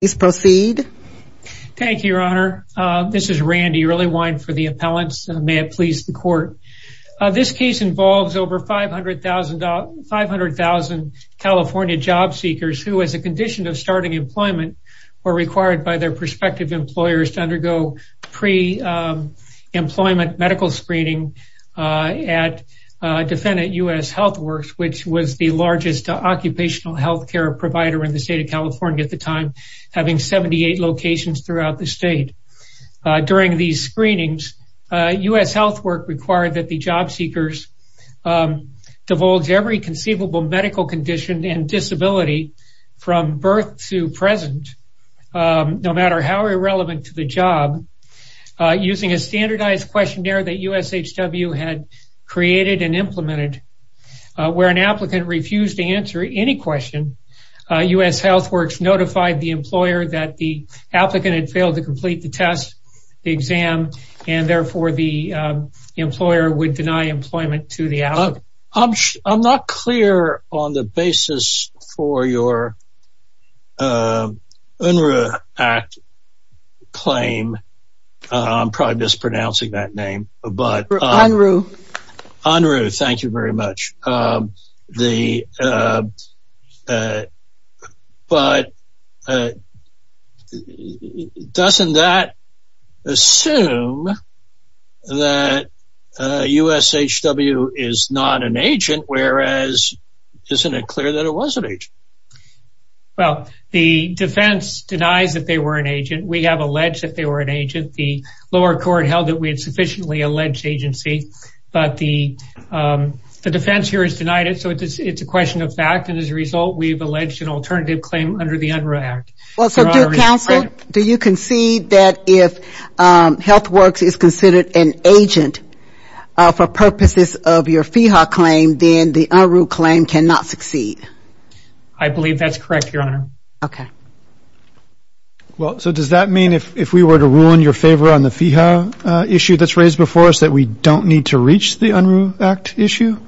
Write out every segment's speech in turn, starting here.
Please proceed. Thank you, Your Honor. This is Randy Earlywine for the appellants. May it please the court. This case involves over 500,000 California job seekers who, as a condition of starting employment, were required by their prospective employers to undergo pre-employment medical screening at Defendant U.S. Healthworks, which was the largest occupational health care provider in state of California at the time, having 78 locations throughout the state. During these screenings, U.S. Healthworks required that the job seekers divulge every conceivable medical condition and disability from birth to present, no matter how irrelevant to the job. Using a standardized questionnaire that USHW had created and implemented, where an applicant refused to answer any question, U.S. Healthworks notified the employer that the applicant had failed to complete the test, the exam, and therefore the employer would deny employment to the applicant. I'm not clear on the basis for your Unruh Act claim. I'm probably mispronouncing it. But doesn't that assume that USHW is not an agent, whereas, isn't it clear that it was an agent? Well, the defense denies that they were an agent. We have alleged that they were an agent. The lower court held that we had sufficiently alleged agency, but the defense here has denied it. So it's a question of fact. And as a result, we've alleged an alternative claim under the Unruh Act. Well, so do counsel, do you concede that if Healthworks is considered an agent for purposes of your FEHA claim, then the Unruh claim cannot succeed? I believe that's correct, Your Honor. Okay. Well, so does that mean if we were to ruin your favor on the FEHA issue that's raised before us, we don't need to reach the Unruh Act issue?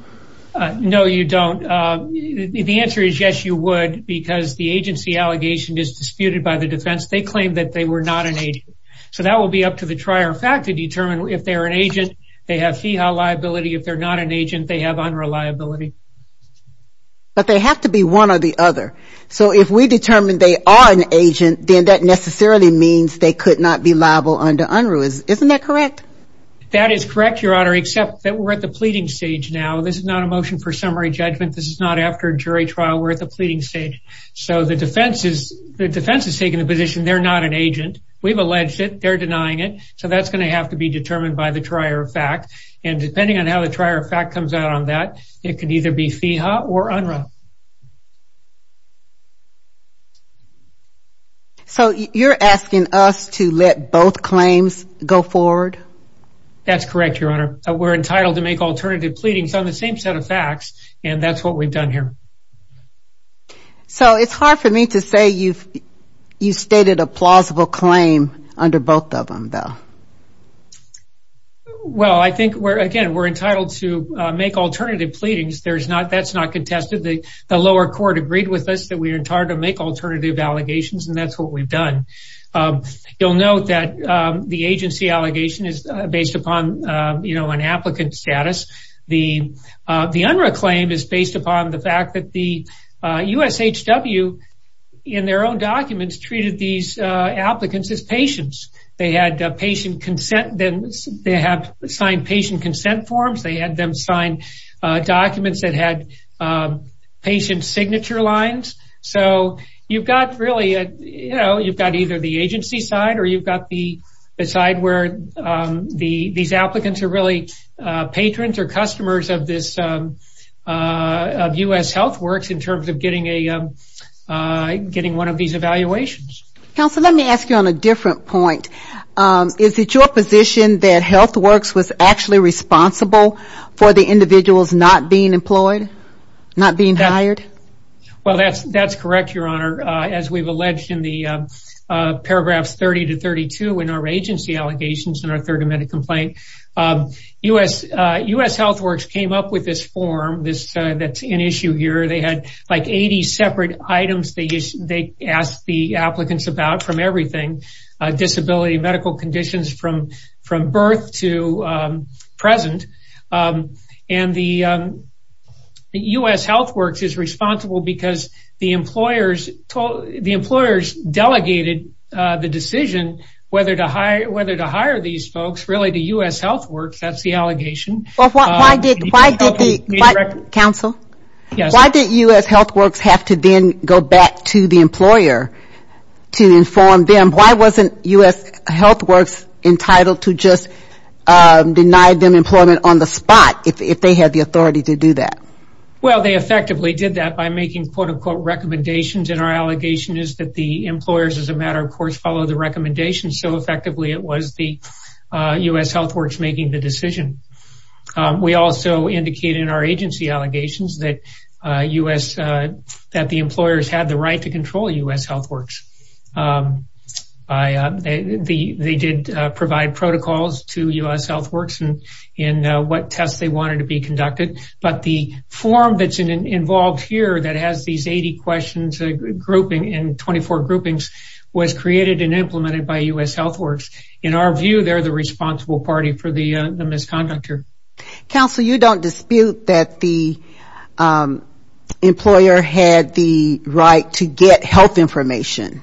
No, you don't. The answer is yes, you would, because the agency allegation is disputed by the defense. They claim that they were not an agent. So that will be up to the trier of fact to determine if they're an agent, they have FEHA liability. If they're not an agent, they have Unruh liability. But they have to be one or the other. So if we determine they are an agent, then that necessarily means they could not be liable under Unruh. Isn't that correct? That is correct, Your Honor, except that we're at the pleading stage now. This is not a motion for summary judgment. This is not after jury trial. We're at the pleading stage. So the defense is taking the position they're not an agent. We've alleged it, they're denying it. So that's going to have to be determined by the trier of fact. And depending on how the trier of fact comes out on that, it could either be FEHA or Unruh. So you're asking us to let both claims go forward? That's correct, Your Honor. We're entitled to make alternative pleadings on the same set of facts. And that's what we've done here. So it's hard for me to say you've stated a plausible claim under both of them, though. Well, I think we're again, we're entitled to make alternative pleadings. That's not contested. The lower court agreed with us that we are entitled to make alternative allegations. And that's what we've done. You'll note that the agency allegation is based upon, you know, an applicant status. The Unruh claim is based upon the fact that the USHW in their own documents treated these applicants as patients. They had patient consent, they had signed patient consent forms, they had them sign documents that had patient signature lines. So you've got really, you know, you've got either the agency side or you've got the side where these applicants are really patrons or customers of US Health Works in terms of getting one of these evaluations. Counselor, let me ask you on a different point. Is it your position that Health Works was actually responsible for the individuals not being employed, not being hired? Well, that's correct, Your Honor. As we've alleged in the paragraphs 30 to 32 in our agency allegations in our third amendment complaint, US Health Works came up with this form that's in issue here. They had like 80 separate items they asked the applicants about from everything, disability, medical conditions from birth to present. And the US Health Works is responsible because the employers delegated the decision whether to hire these folks really to US Health Works. That's the allegation. Counsel? Yes. Why did US Health Works have to then go back to the US Health Works? Why wasn't US Health Works entitled to just deny them employment on the spot if they had the authority to do that? Well, they effectively did that by making quote-unquote recommendations. And our allegation is that the employers as a matter of course followed the recommendations. So effectively, it was the US Health Works making the decision. We also indicated in our agency allegations that US, that the employers had the right to the they did provide protocols to US Health Works and in what tests they wanted to be conducted. But the form that's involved here that has these 80 questions grouping in 24 groupings was created and implemented by US Health Works. In our view, they're the responsible party for the misconduct here. Counsel, you don't dispute that the employer had the right to get health information?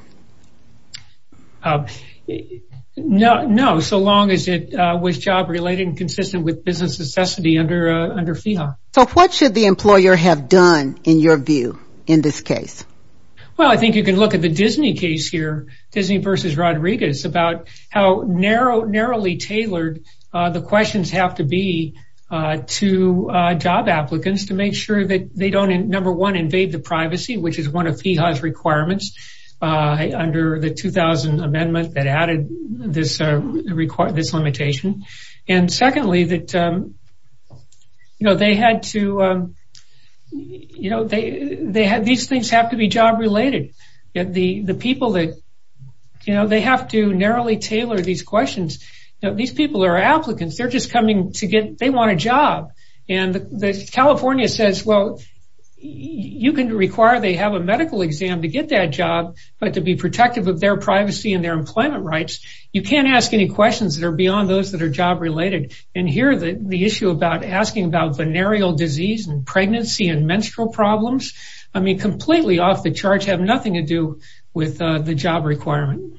No, so long as it was job related and consistent with business necessity under FIHA. So what should the employer have done in your view in this case? Well, I think you can look at the Disney case here, Disney versus Rodriguez about how narrow, narrowly tailored the questions have to be to job applicants to make sure that they don't, number one, invade the privacy, which is one of FIHA's requirements under the 2000 amendment that added this limitation. And secondly, that, you know, they had to, you know, they had these things have to be job related. The people that, you know, they have to narrowly tailor these questions. You know, these people are applicants, they're just coming to get they want a job. And California says, well, you can require they have a medical exam to get that job, but to be protective of their privacy and their employment rights, you can't ask any questions that are beyond those that are job related. And here the issue about asking about venereal disease and pregnancy and menstrual problems, I mean, completely off the charts have nothing to do with the job requirement.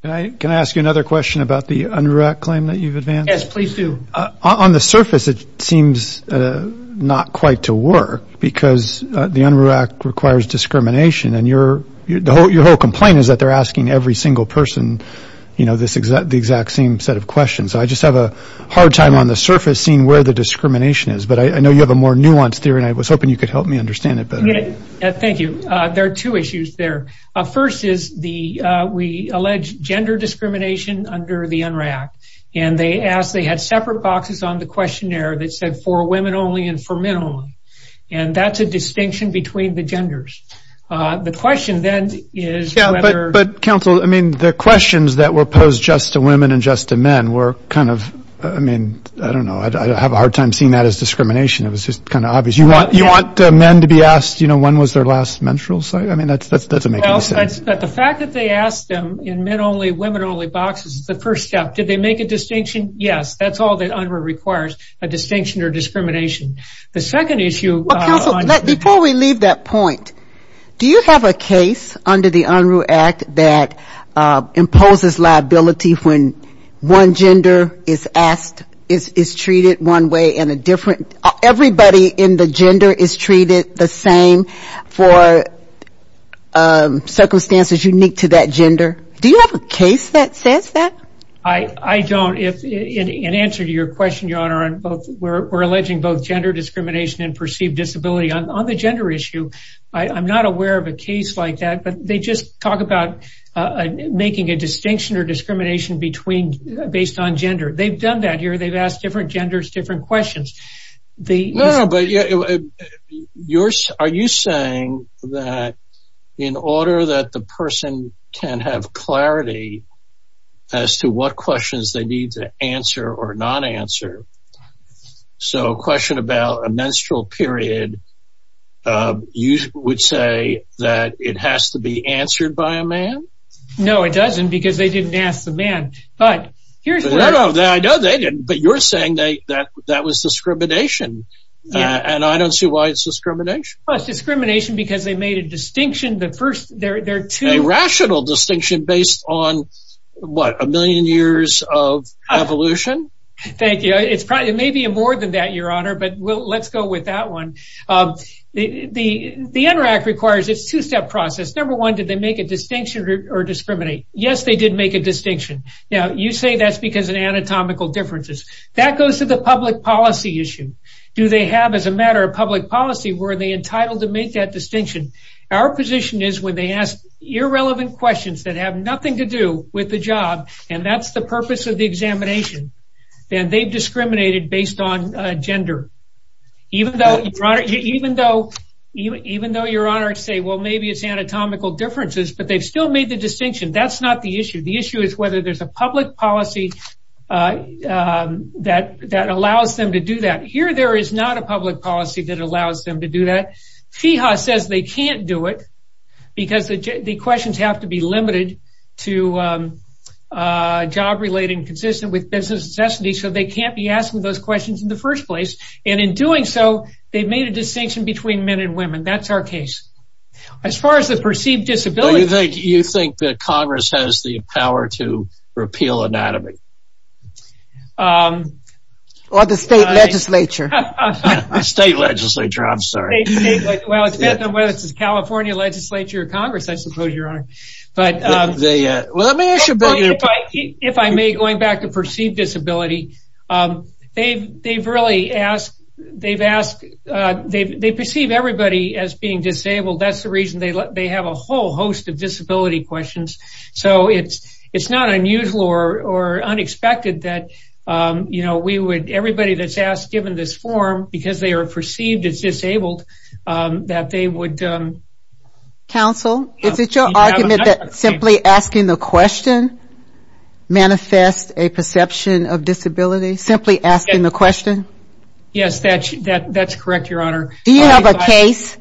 Can I ask you another question about the UNRURAC claim that you've advanced? Yes, please do. On the surface, it seems not quite to work because the UNRURAC requires discrimination and your whole complaint is that they're asking every single person, you know, this exact the exact same set of questions. I just have a hard time on the surface seeing where the discrimination is. But I know you have a more nuanced theory and I was hoping you could help me understand it better. Thank you. There are two issues there. First is the, we allege gender discrimination under the UNRURAC. And they asked, they had separate boxes on the questionnaire that said for women only and for men only. And that's a distinction between the genders. The question then is. But counsel, I mean, the questions that were posed just to women and just to men were kind of, I mean, I don't know, I have a hard time seeing that as discrimination. It was just kind of obvious. You want you want men to be asked, you know, when was their last menstrual site? I mean, that's that doesn't make sense. But the fact that they asked them in men only women only boxes, the first step, did they make a distinction? Yes, that's all that requires a distinction or discrimination. The second issue. Before we leave that point, do you have a case under the UNRURAC that imposes liability when one gender is asked, is treated one way and a different. Everybody in the gender is treated the same for circumstances unique to that gender. Do you have a case that says that? I don't. In answer to your question, Your Honor, we're alleging both gender discrimination and perceived disability on the gender issue. I'm not aware of a case like that, but they just talk about making a distinction or discrimination between based on gender. They've done that here. They've asked different genders, different questions. Are you saying that in order that the person can have clarity as to what questions they need to answer or not answer? So a question about a menstrual period, you would say that it has to be answered by a man? No, it doesn't, because they didn't ask the man. I know they didn't, but you're saying that that was discrimination, and I don't see why it's discrimination. It's discrimination because they made a distinction. A rational distinction based on what, a million years of evolution? Thank you. It may be more than that, Your Honor, but let's go with that one. The NRAC requires its two-step process. Number one, did they make a distinction or discriminate? Yes, they did make a distinction. Now, you say that's because of anatomical differences. That goes to the public policy issue. Do they have, as a matter of public policy, were they entitled to make that distinction? Our position is when they ask irrelevant questions that have nothing to do with the job, and that's the purpose of the examination, then they've discriminated based on gender. Even though, Your Honor, say, well, maybe it's anatomical differences, but they've still made the distinction. That's not the issue. The issue is whether there's a public policy that allows them to do that. Here, there is not a public policy that allows them to do that. FEHA says they can't do it because the questions have to be so they can't be asking those questions in the first place, and in doing so, they've made a distinction between men and women. That's our case. As far as the perceived disability- You think that Congress has the power to repeal anatomy? Or the state legislature. State legislature, I'm sorry. Well, it depends on whether it's the California legislature or Congress, I suppose, Your Honor. But if I may, going back to perceived disability, they perceive everybody as being disabled. That's the reason they have a whole host of disability questions. It's not unusual or unexpected that everybody that's asked, given this form, because they are perceived as disabled, that they would- Simply asking the question manifests a perception of disability? Simply asking the question? Yes, that's correct, Your Honor. Do you have a case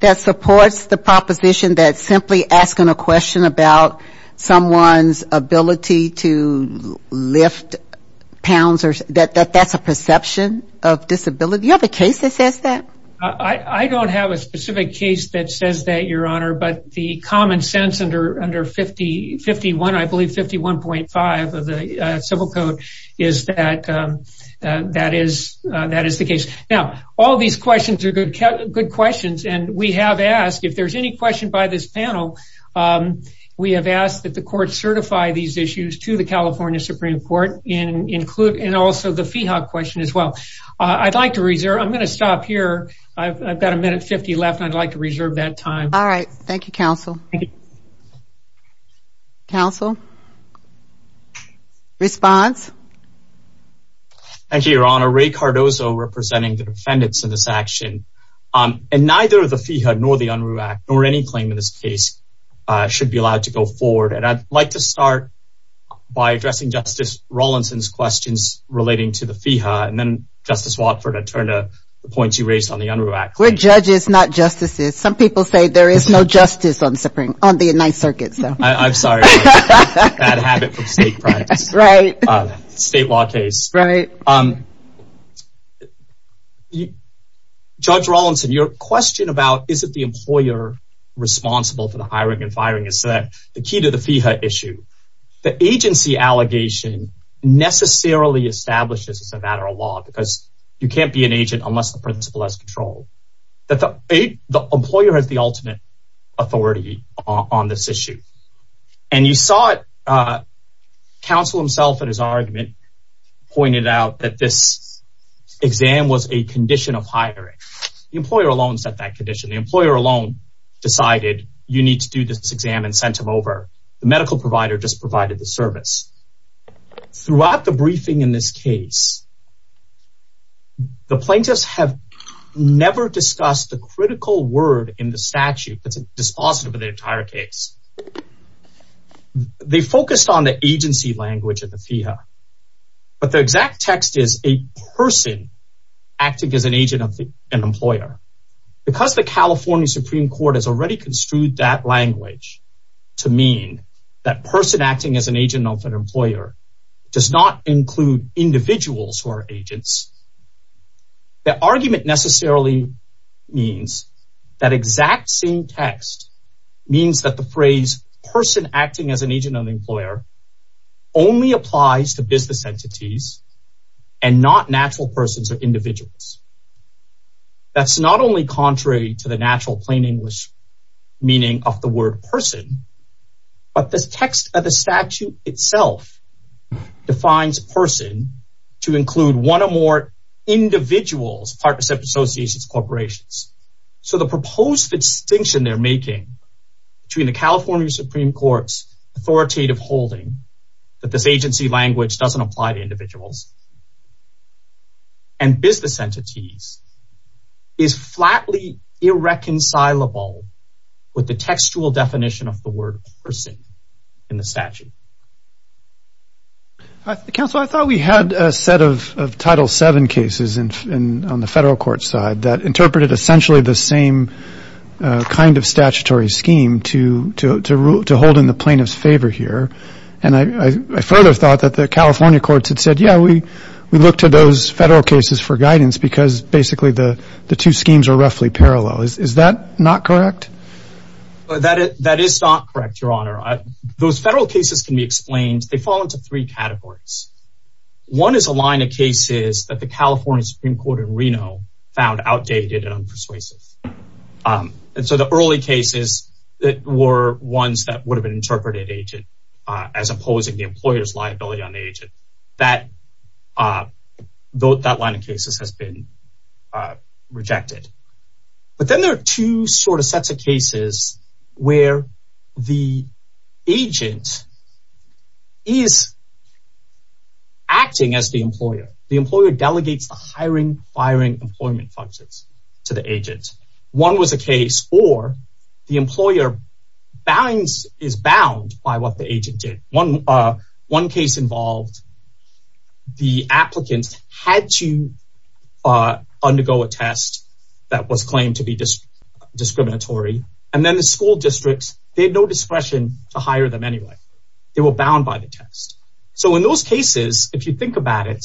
that supports the proposition that simply asking a question about someone's ability to lift pounds, that's a perception of disability? Do you have a case that says that? I don't have a specific case that says that, Your Honor, but the common sense under 51, I believe 51.5 of the civil code, is that that is the case. Now, all these questions are good questions, and we have asked, if there's any question by this panel, we have asked that the court certify these issues to the California Supreme Court, and also the FIHA question as well. I'd like to reserve- I'm going to stop here. I've got a minute 50 left, and I'd like to reserve that time. All right. Thank you, counsel. Counsel? Response? Thank you, Your Honor. Ray Cardozo, representing the defendants in this action. Neither the FIHA nor the UNRUH Act, nor any claim in this case, should be allowed to go to the Supreme Court. Judge Rawlinson's questions relating to the FIHA, and then Justice Watford, I turn to the points you raised on the UNRUH Act. We're judges, not justices. Some people say there is no justice on the United Circuits, though. I'm sorry. Bad habit from state practice. Right. State law case. Right. Judge Rawlinson, your question about, is it the employer responsible for the hiring and firing, the key to the FIHA issue. The agency allegation necessarily establishes it's a matter of law, because you can't be an agent unless the principal has control. The employer has the ultimate authority on this issue. And you saw it. Counsel himself, in his argument, pointed out that this exam was a condition of hiring. The employer alone set that condition. The employer alone decided you need to do this exam and sent him over. The medical provider just provided the service. Throughout the briefing in this case, the plaintiffs have never discussed the critical word in the statute that's dispositive of the entire case. They focused on the agency language of the FIHA. But the exact text is a person acting as an agent of an employer. Because the California Supreme Court has already construed that language to mean that person acting as an agent of an employer does not include individuals who are agents. The argument necessarily means that exact same text means that the phrase person acting as an agent of the employer only applies to business entities and not natural persons or individuals. That's not only contrary to the natural plain English meaning of the word person, but the text of the statute itself defines person to include one or more individuals, partnerships, associations, corporations. So the proposed distinction they're making between the California Supreme Court's authoritative holding that this agency language doesn't apply to individuals and business entities is flatly irreconcilable with the textual definition of the word person in the statute. Counsel, I thought we had a set of Title VII cases on the federal court side that interpreted essentially the same kind of statutory scheme to hold in the plaintiff's favor here. And I further thought that the California courts had said, yeah, we look to those federal cases for guidance because basically the two schemes are roughly parallel. Is that not correct? That is not correct, Your Honor. Those federal cases can be explained, they fall into three categories. One is a line of cases that the California Supreme Court in Reno found outdated and unpersuasive. And so the early cases that were ones that would have been interpreted agent as opposing the employer's liability on the agent, that line of cases has been rejected. But then there are two sort of sets of cases where the agent is acting as the employer. The employer delegates the hiring, firing, employment functions to the agent. One was a case where the employer is bound by what the agent did. One case involved the applicant had to undergo a test that was claimed to be discriminatory. And then the school districts, they had no discretion to hire them anyway. They were bound by the test. So in those cases, if you think about it,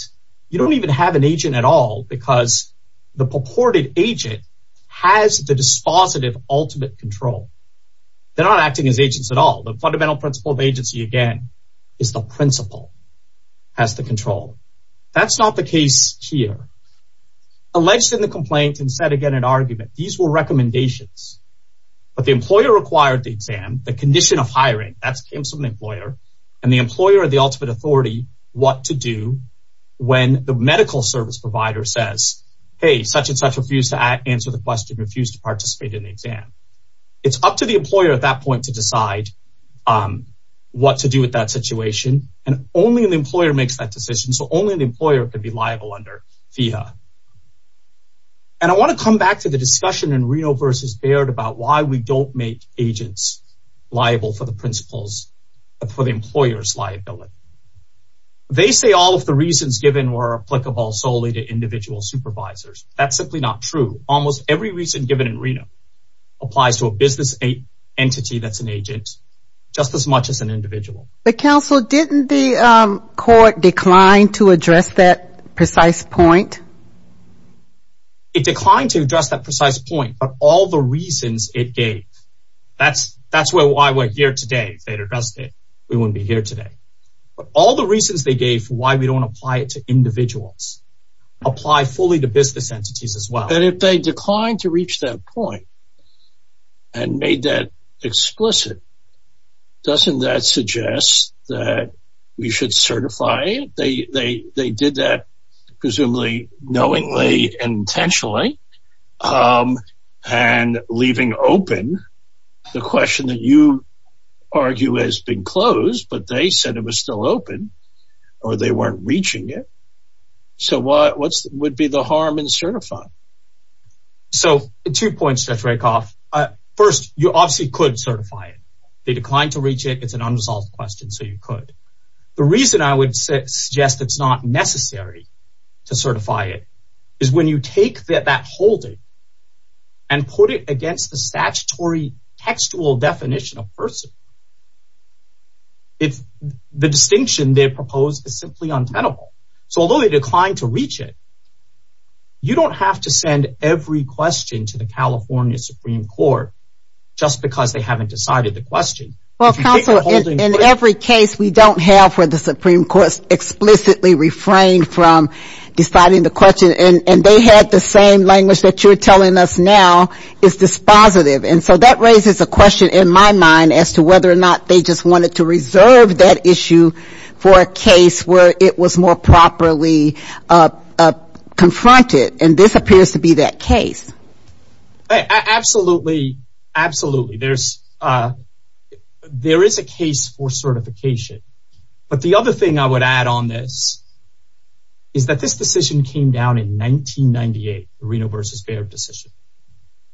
you don't even have an agent at all because the purported agent has the dispositive ultimate control. They're not acting as agents at all. The fundamental principle of agency, again, is the principal has the control. That's not the case here. Alleged in the complaint and said again, an argument, these were recommendations, but the employer required the exam, the condition of hiring, that's Kim's employer, and the employer, the ultimate authority, what to do when the medical service provider says, hey, such and such refused to answer the question, refused to participate in the exam. It's up to the employer at that point to decide what to do with that situation. And only an employer makes that decision. So only an employer could be liable under FIHA. And I want to come back to the discussion in Reno versus Baird about why we don't make agents liable for the principles for the employer's liability. They say all of the reasons given were applicable solely to individual supervisors. That's simply not true. Almost every reason given in Reno applies to a business entity that's an agent just as much as an individual. But counsel, didn't the court decline to address that precise point? It declined to address that precise point, but all the reasons it gave, that's why we're here today. If they'd addressed it, we wouldn't be here today. But all the reasons they gave for why we don't apply it to individuals, apply fully to business entities as well. But if they declined to reach that point and made that explicit, doesn't that suggest that we should certify it? They did that, presumably knowingly and intentionally, and leaving open the question that you argue has been closed, but they said it was still open, or they weren't reaching it. So what would be the harm in certifying? So two points, Judge Rakoff. First, you obviously could certify it. They declined to reach it. It's an unresolved question, so you could. The reason I would suggest it's not necessary to certify it is when you take that holding and put it against the statutory textual definition of person, the distinction they propose is simply untenable. So although they declined to reach it, you don't have to send every question to the California Supreme Court just because they haven't decided the question. In every case, we don't have where the Supreme Court explicitly refrained from deciding the question, and they had the same language that you're telling us now is dispositive, and so that raises a question in my mind as to whether or not they just wanted to reserve that issue for a case where it was more properly confronted, and this appears to be that case. Absolutely, absolutely. There is a case for certification, but the other thing I would add on this is that this decision came down in 1998, Reno v. Baird decision.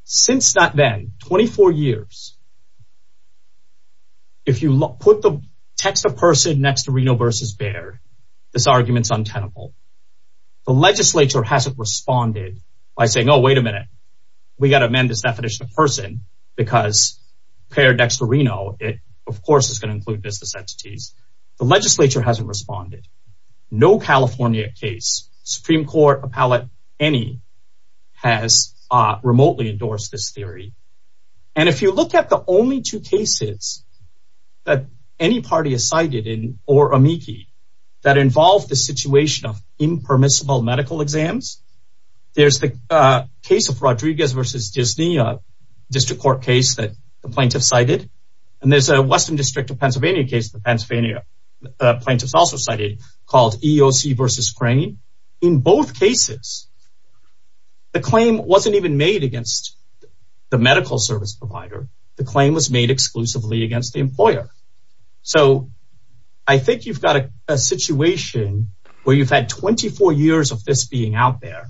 Since then, 24 years, if you put the text of person next to Reno v. Baird, this argument's untenable. The legislature hasn't responded by saying, oh, wait a minute, we got to amend this definition of person because paired next to Reno, it, of course, is going to include business entities. The legislature hasn't responded. No California case, Supreme Court appellate any, has remotely endorsed this theory, and if you look at the only two cases that any party is cited in or amici that involve the situation of impermissible medical exams, there's the case of Rodriguez v. Disney, a district court case that the plaintiff cited, and there's a western district of Pennsylvania case the Pennsylvania plaintiffs also cited called EOC v. Crane. In both cases, the claim wasn't even made against the medical service provider. The claim was made exclusively against the employer, so I think you've got a situation where you've had 24 years of this being out there.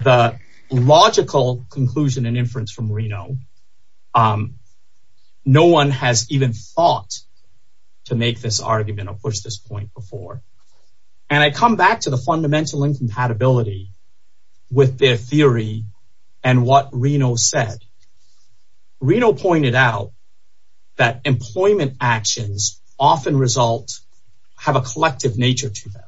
The logical conclusion and inference from Reno, no one has even thought to make this argument or this point before, and I come back to the fundamental incompatibility with their theory and what Reno said. Reno pointed out that employment actions often result, have a collective nature to them.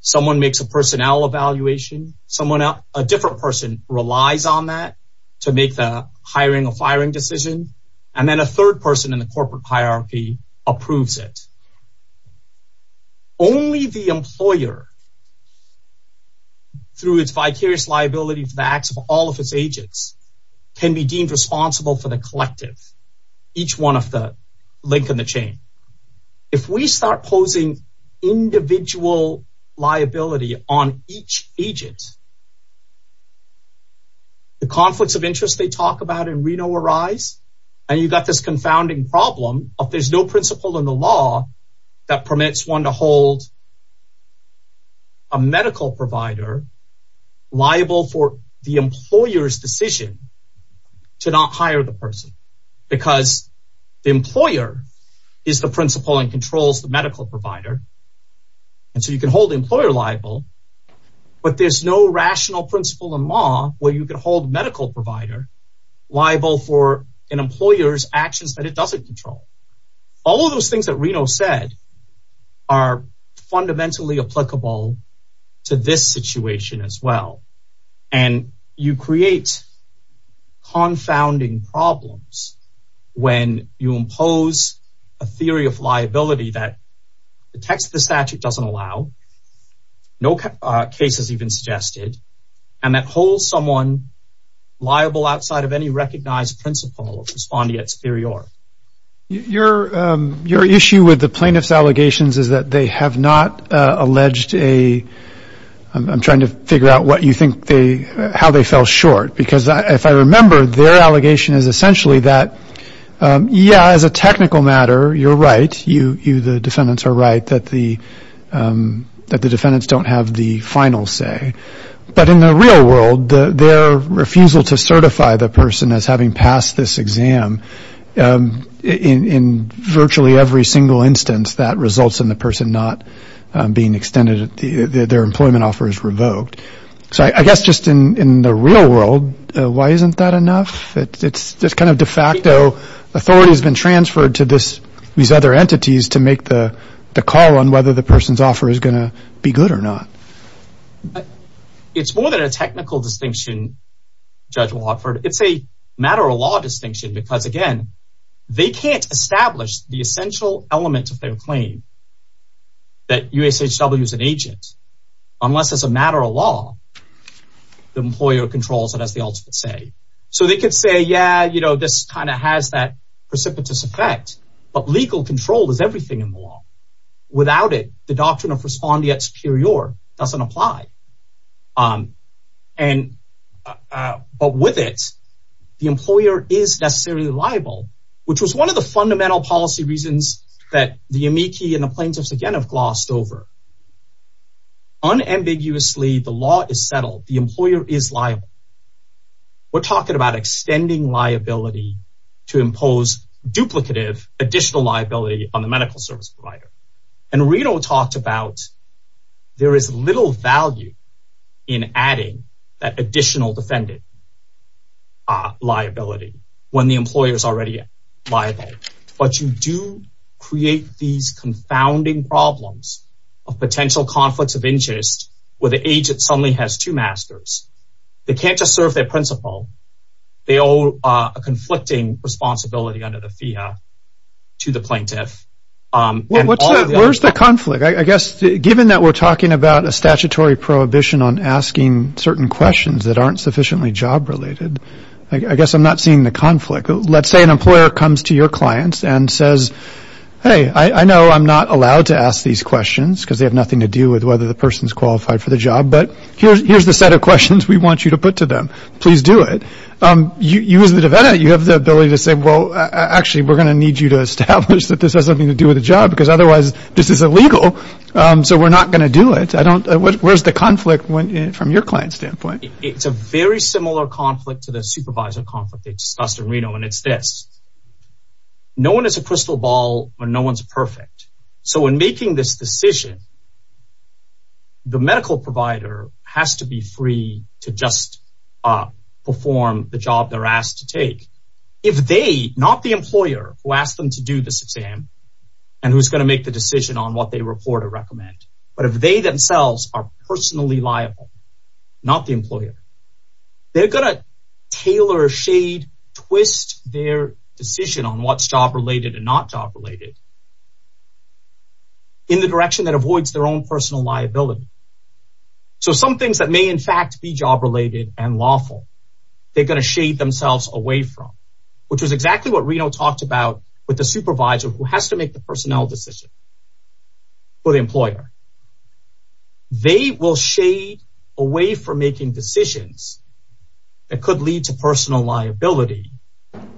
Someone makes a personnel evaluation, someone, a different person relies on that to make the hiring or firing decision, and then a third person in the only the employer through its vicarious liability for the acts of all of its agents can be deemed responsible for the collective, each one of the link in the chain. If we start posing individual liability on each agent, the conflicts of interest they talk about in Reno arise, and you've got this confounding problem of there's no principle in the law that permits one to hold a medical provider liable for the employer's decision to not hire the person because the employer is the principle and controls the medical provider, and so you can hold employer liable, but there's no rational principle in law where you can hold medical provider liable for an employer's actions that it doesn't control. All of those things that Reno said are fundamentally applicable to this situation as well, and you create confounding problems when you impose a theory of liability that the text of the statute doesn't allow, no case has even suggested, and that holds someone liable outside of any recognized principle of respondeat superior. Your issue with the plaintiff's allegations is that they have not alleged a, I'm trying to figure out what you think they, how they fell short, because if I remember their allegation is essentially that, yeah, as a technical matter you're right, you the defendants are right, that the defendants don't have the final say, but in the real world their refusal to certify the person as having passed this exam, in virtually every single instance that results in the person not being extended, their employment offer is revoked. So I guess just in the real world, why isn't that enough? It's kind of de facto, authority has been transferred to these other the person's offer is going to be good or not. It's more than a technical distinction, Judge Watford, it's a matter of law distinction, because again, they can't establish the essential element of their claim that USHW is an agent, unless it's a matter of law, the employer controls it as the ultimate say. So they could say, yeah, you know, this kind of has that precipitous effect, but legal control is everything in the law. Without it, the doctrine of respondeat superior doesn't apply. And, but with it, the employer is necessarily liable, which was one of the fundamental policy reasons that the amici and the plaintiffs again have glossed over. Unambiguously, the law is settled, the employer is liable. We're talking about extending liability to impose duplicative additional liability on the medical service provider. And Reno talked about, there is little value in adding that additional defendant liability when the employer is already liable. But you do create these confounding problems of potential conflicts of interest, where the agent suddenly has two masters, they can't just serve their principal, they owe a conflicting responsibility under the FIA to the plaintiff. Where's the conflict? I guess, given that we're talking about a statutory prohibition on asking certain questions that aren't sufficiently job related, I guess I'm not seeing the conflict. Let's say an employer comes to your clients and says, Hey, I know I'm not allowed to ask these questions because they have nothing to do with whether the person's qualified for the job. But here's the set of questions we want you to put to them. Please do it. You as the defendant, you have the ability to say, Well, actually, we're going to need you to establish that this has something to do with the job because otherwise, this is illegal. So we're not going to do it. Where's the conflict from your client standpoint? It's a very similar conflict to the supervisor conflict they discussed in Reno. And it's this, no one is a crystal ball or no one's perfect. So in making this decision, the medical provider has to be free to just perform the job they're asked to take. If they, not the employer who asked them to do this exam, and who's going to make the decision on what they report or recommend, but if they themselves are personally liable, not the employer, they're going to tailor, shade, twist their decision on what's job related and not job related in the direction that avoids their own personal liability. So some things that may in fact be job related and lawful, they're going to shade themselves away from, which is exactly what Reno talked about with the supervisor who has to make the personnel decision for the employer. They will shade away from making decisions that could lead to personal liability,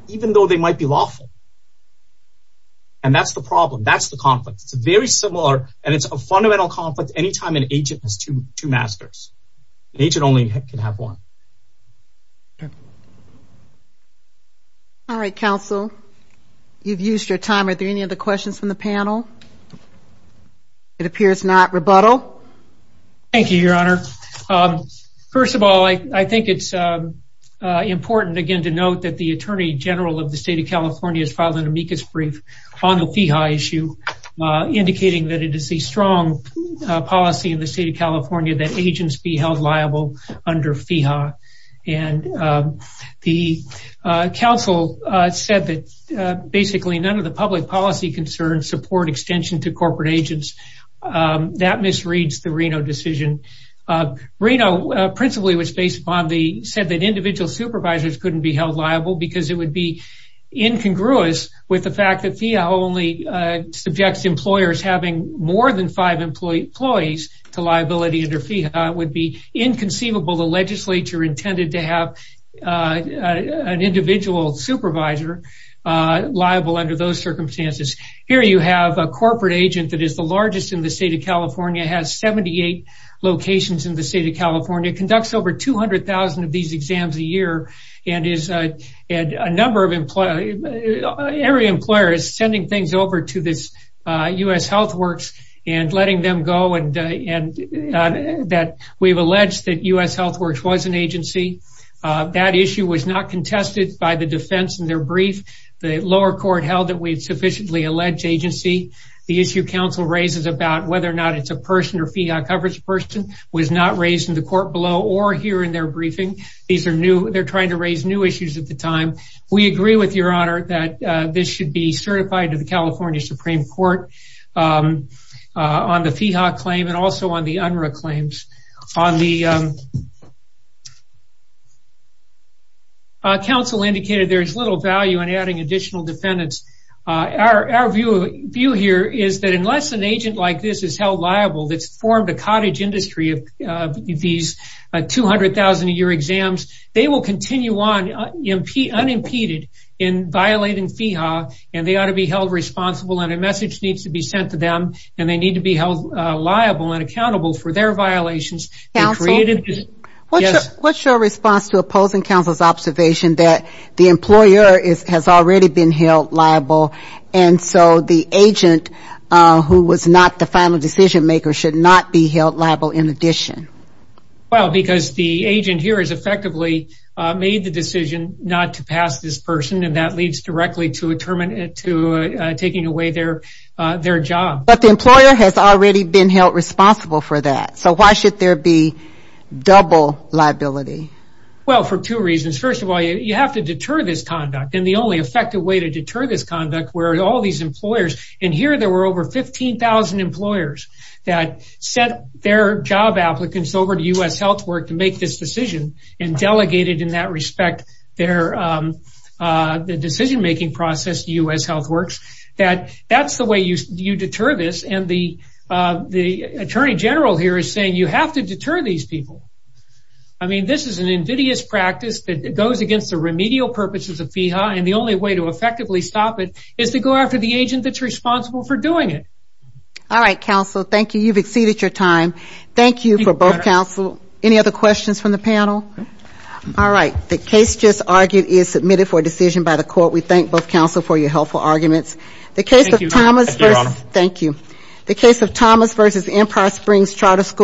even though they might be lawful. And that's the problem. That's the conflict. It's a very similar, and it's a fundamental conflict anytime an agent has two masters. An agent only can have one. All right, counsel, you've used your time. Are there any other questions from the panel? It appears not. Rebuttal? Thank you, your honor. First of all, I think it's important again to note that the attorney general of the state of California has filed an amicus brief on the FIHA issue, indicating that it is a strong policy in the state of California that agents be held liable under FIHA. And the counsel said that basically none of the public policy concerns support extension to corporate agents. That misreads the Reno decision. Reno principally said that individual supervisors couldn't be held liable because it would be incongruous with the fact that FIHA only subjects employers having more than five employees to liability under FIHA. It would be inconceivable the legislature intended to have an individual supervisor liable under those conditions. The state of California has 78 locations in the state of California, conducts over 200,000 of these exams a year, and every employer is sending things over to U.S. Health Works and letting them go. We've alleged that U.S. Health Works was an agency. That issue was not contested by the defense in their brief. The lower court held that we whether or not it's a person or FIHA coverage person was not raised in the court below or here in their briefing. They're trying to raise new issues at the time. We agree with your honor that this should be certified to the California Supreme Court on the FIHA claim and also on the UNRRA claims. Counsel indicated there's little value in adding additional defendants. Our view here is that unless an agent like this is held liable that's formed a cottage industry of these 200,000 a year exams, they will continue on unimpeded in violating FIHA and they ought to be held responsible and a message needs to be sent to them and they need to be held liable and accountable for their violations. What's your response to opposing counsel's observation that the employer has already been held liable and so the agent who was not the final decision maker should not be held liable in addition? Well because the agent here has effectively made the decision not to pass this person and that leads directly to taking away their job. But the employer has already been held responsible for that so why should there be liability? Well for two reasons. First of all, you have to deter this conduct and the only effective way to deter this conduct where all these employers and here there were over 15,000 employers that sent their job applicants over to U.S. Health Work to make this decision and delegated in that respect their decision making process to U.S. Health Works. That's the way you deter this and the Attorney General here is saying you have to deter these people. I mean this is an invidious practice that goes against the remedial purposes of FIHA and the only way to effectively stop it is to go after the agent that's responsible for doing it. All right counsel, thank you. You've exceeded your time. Thank you for both counsel. Any other questions from the panel? All right. The case just argued is submitted for decision by the court. We The case of Thomas v. Empire Springs Charter School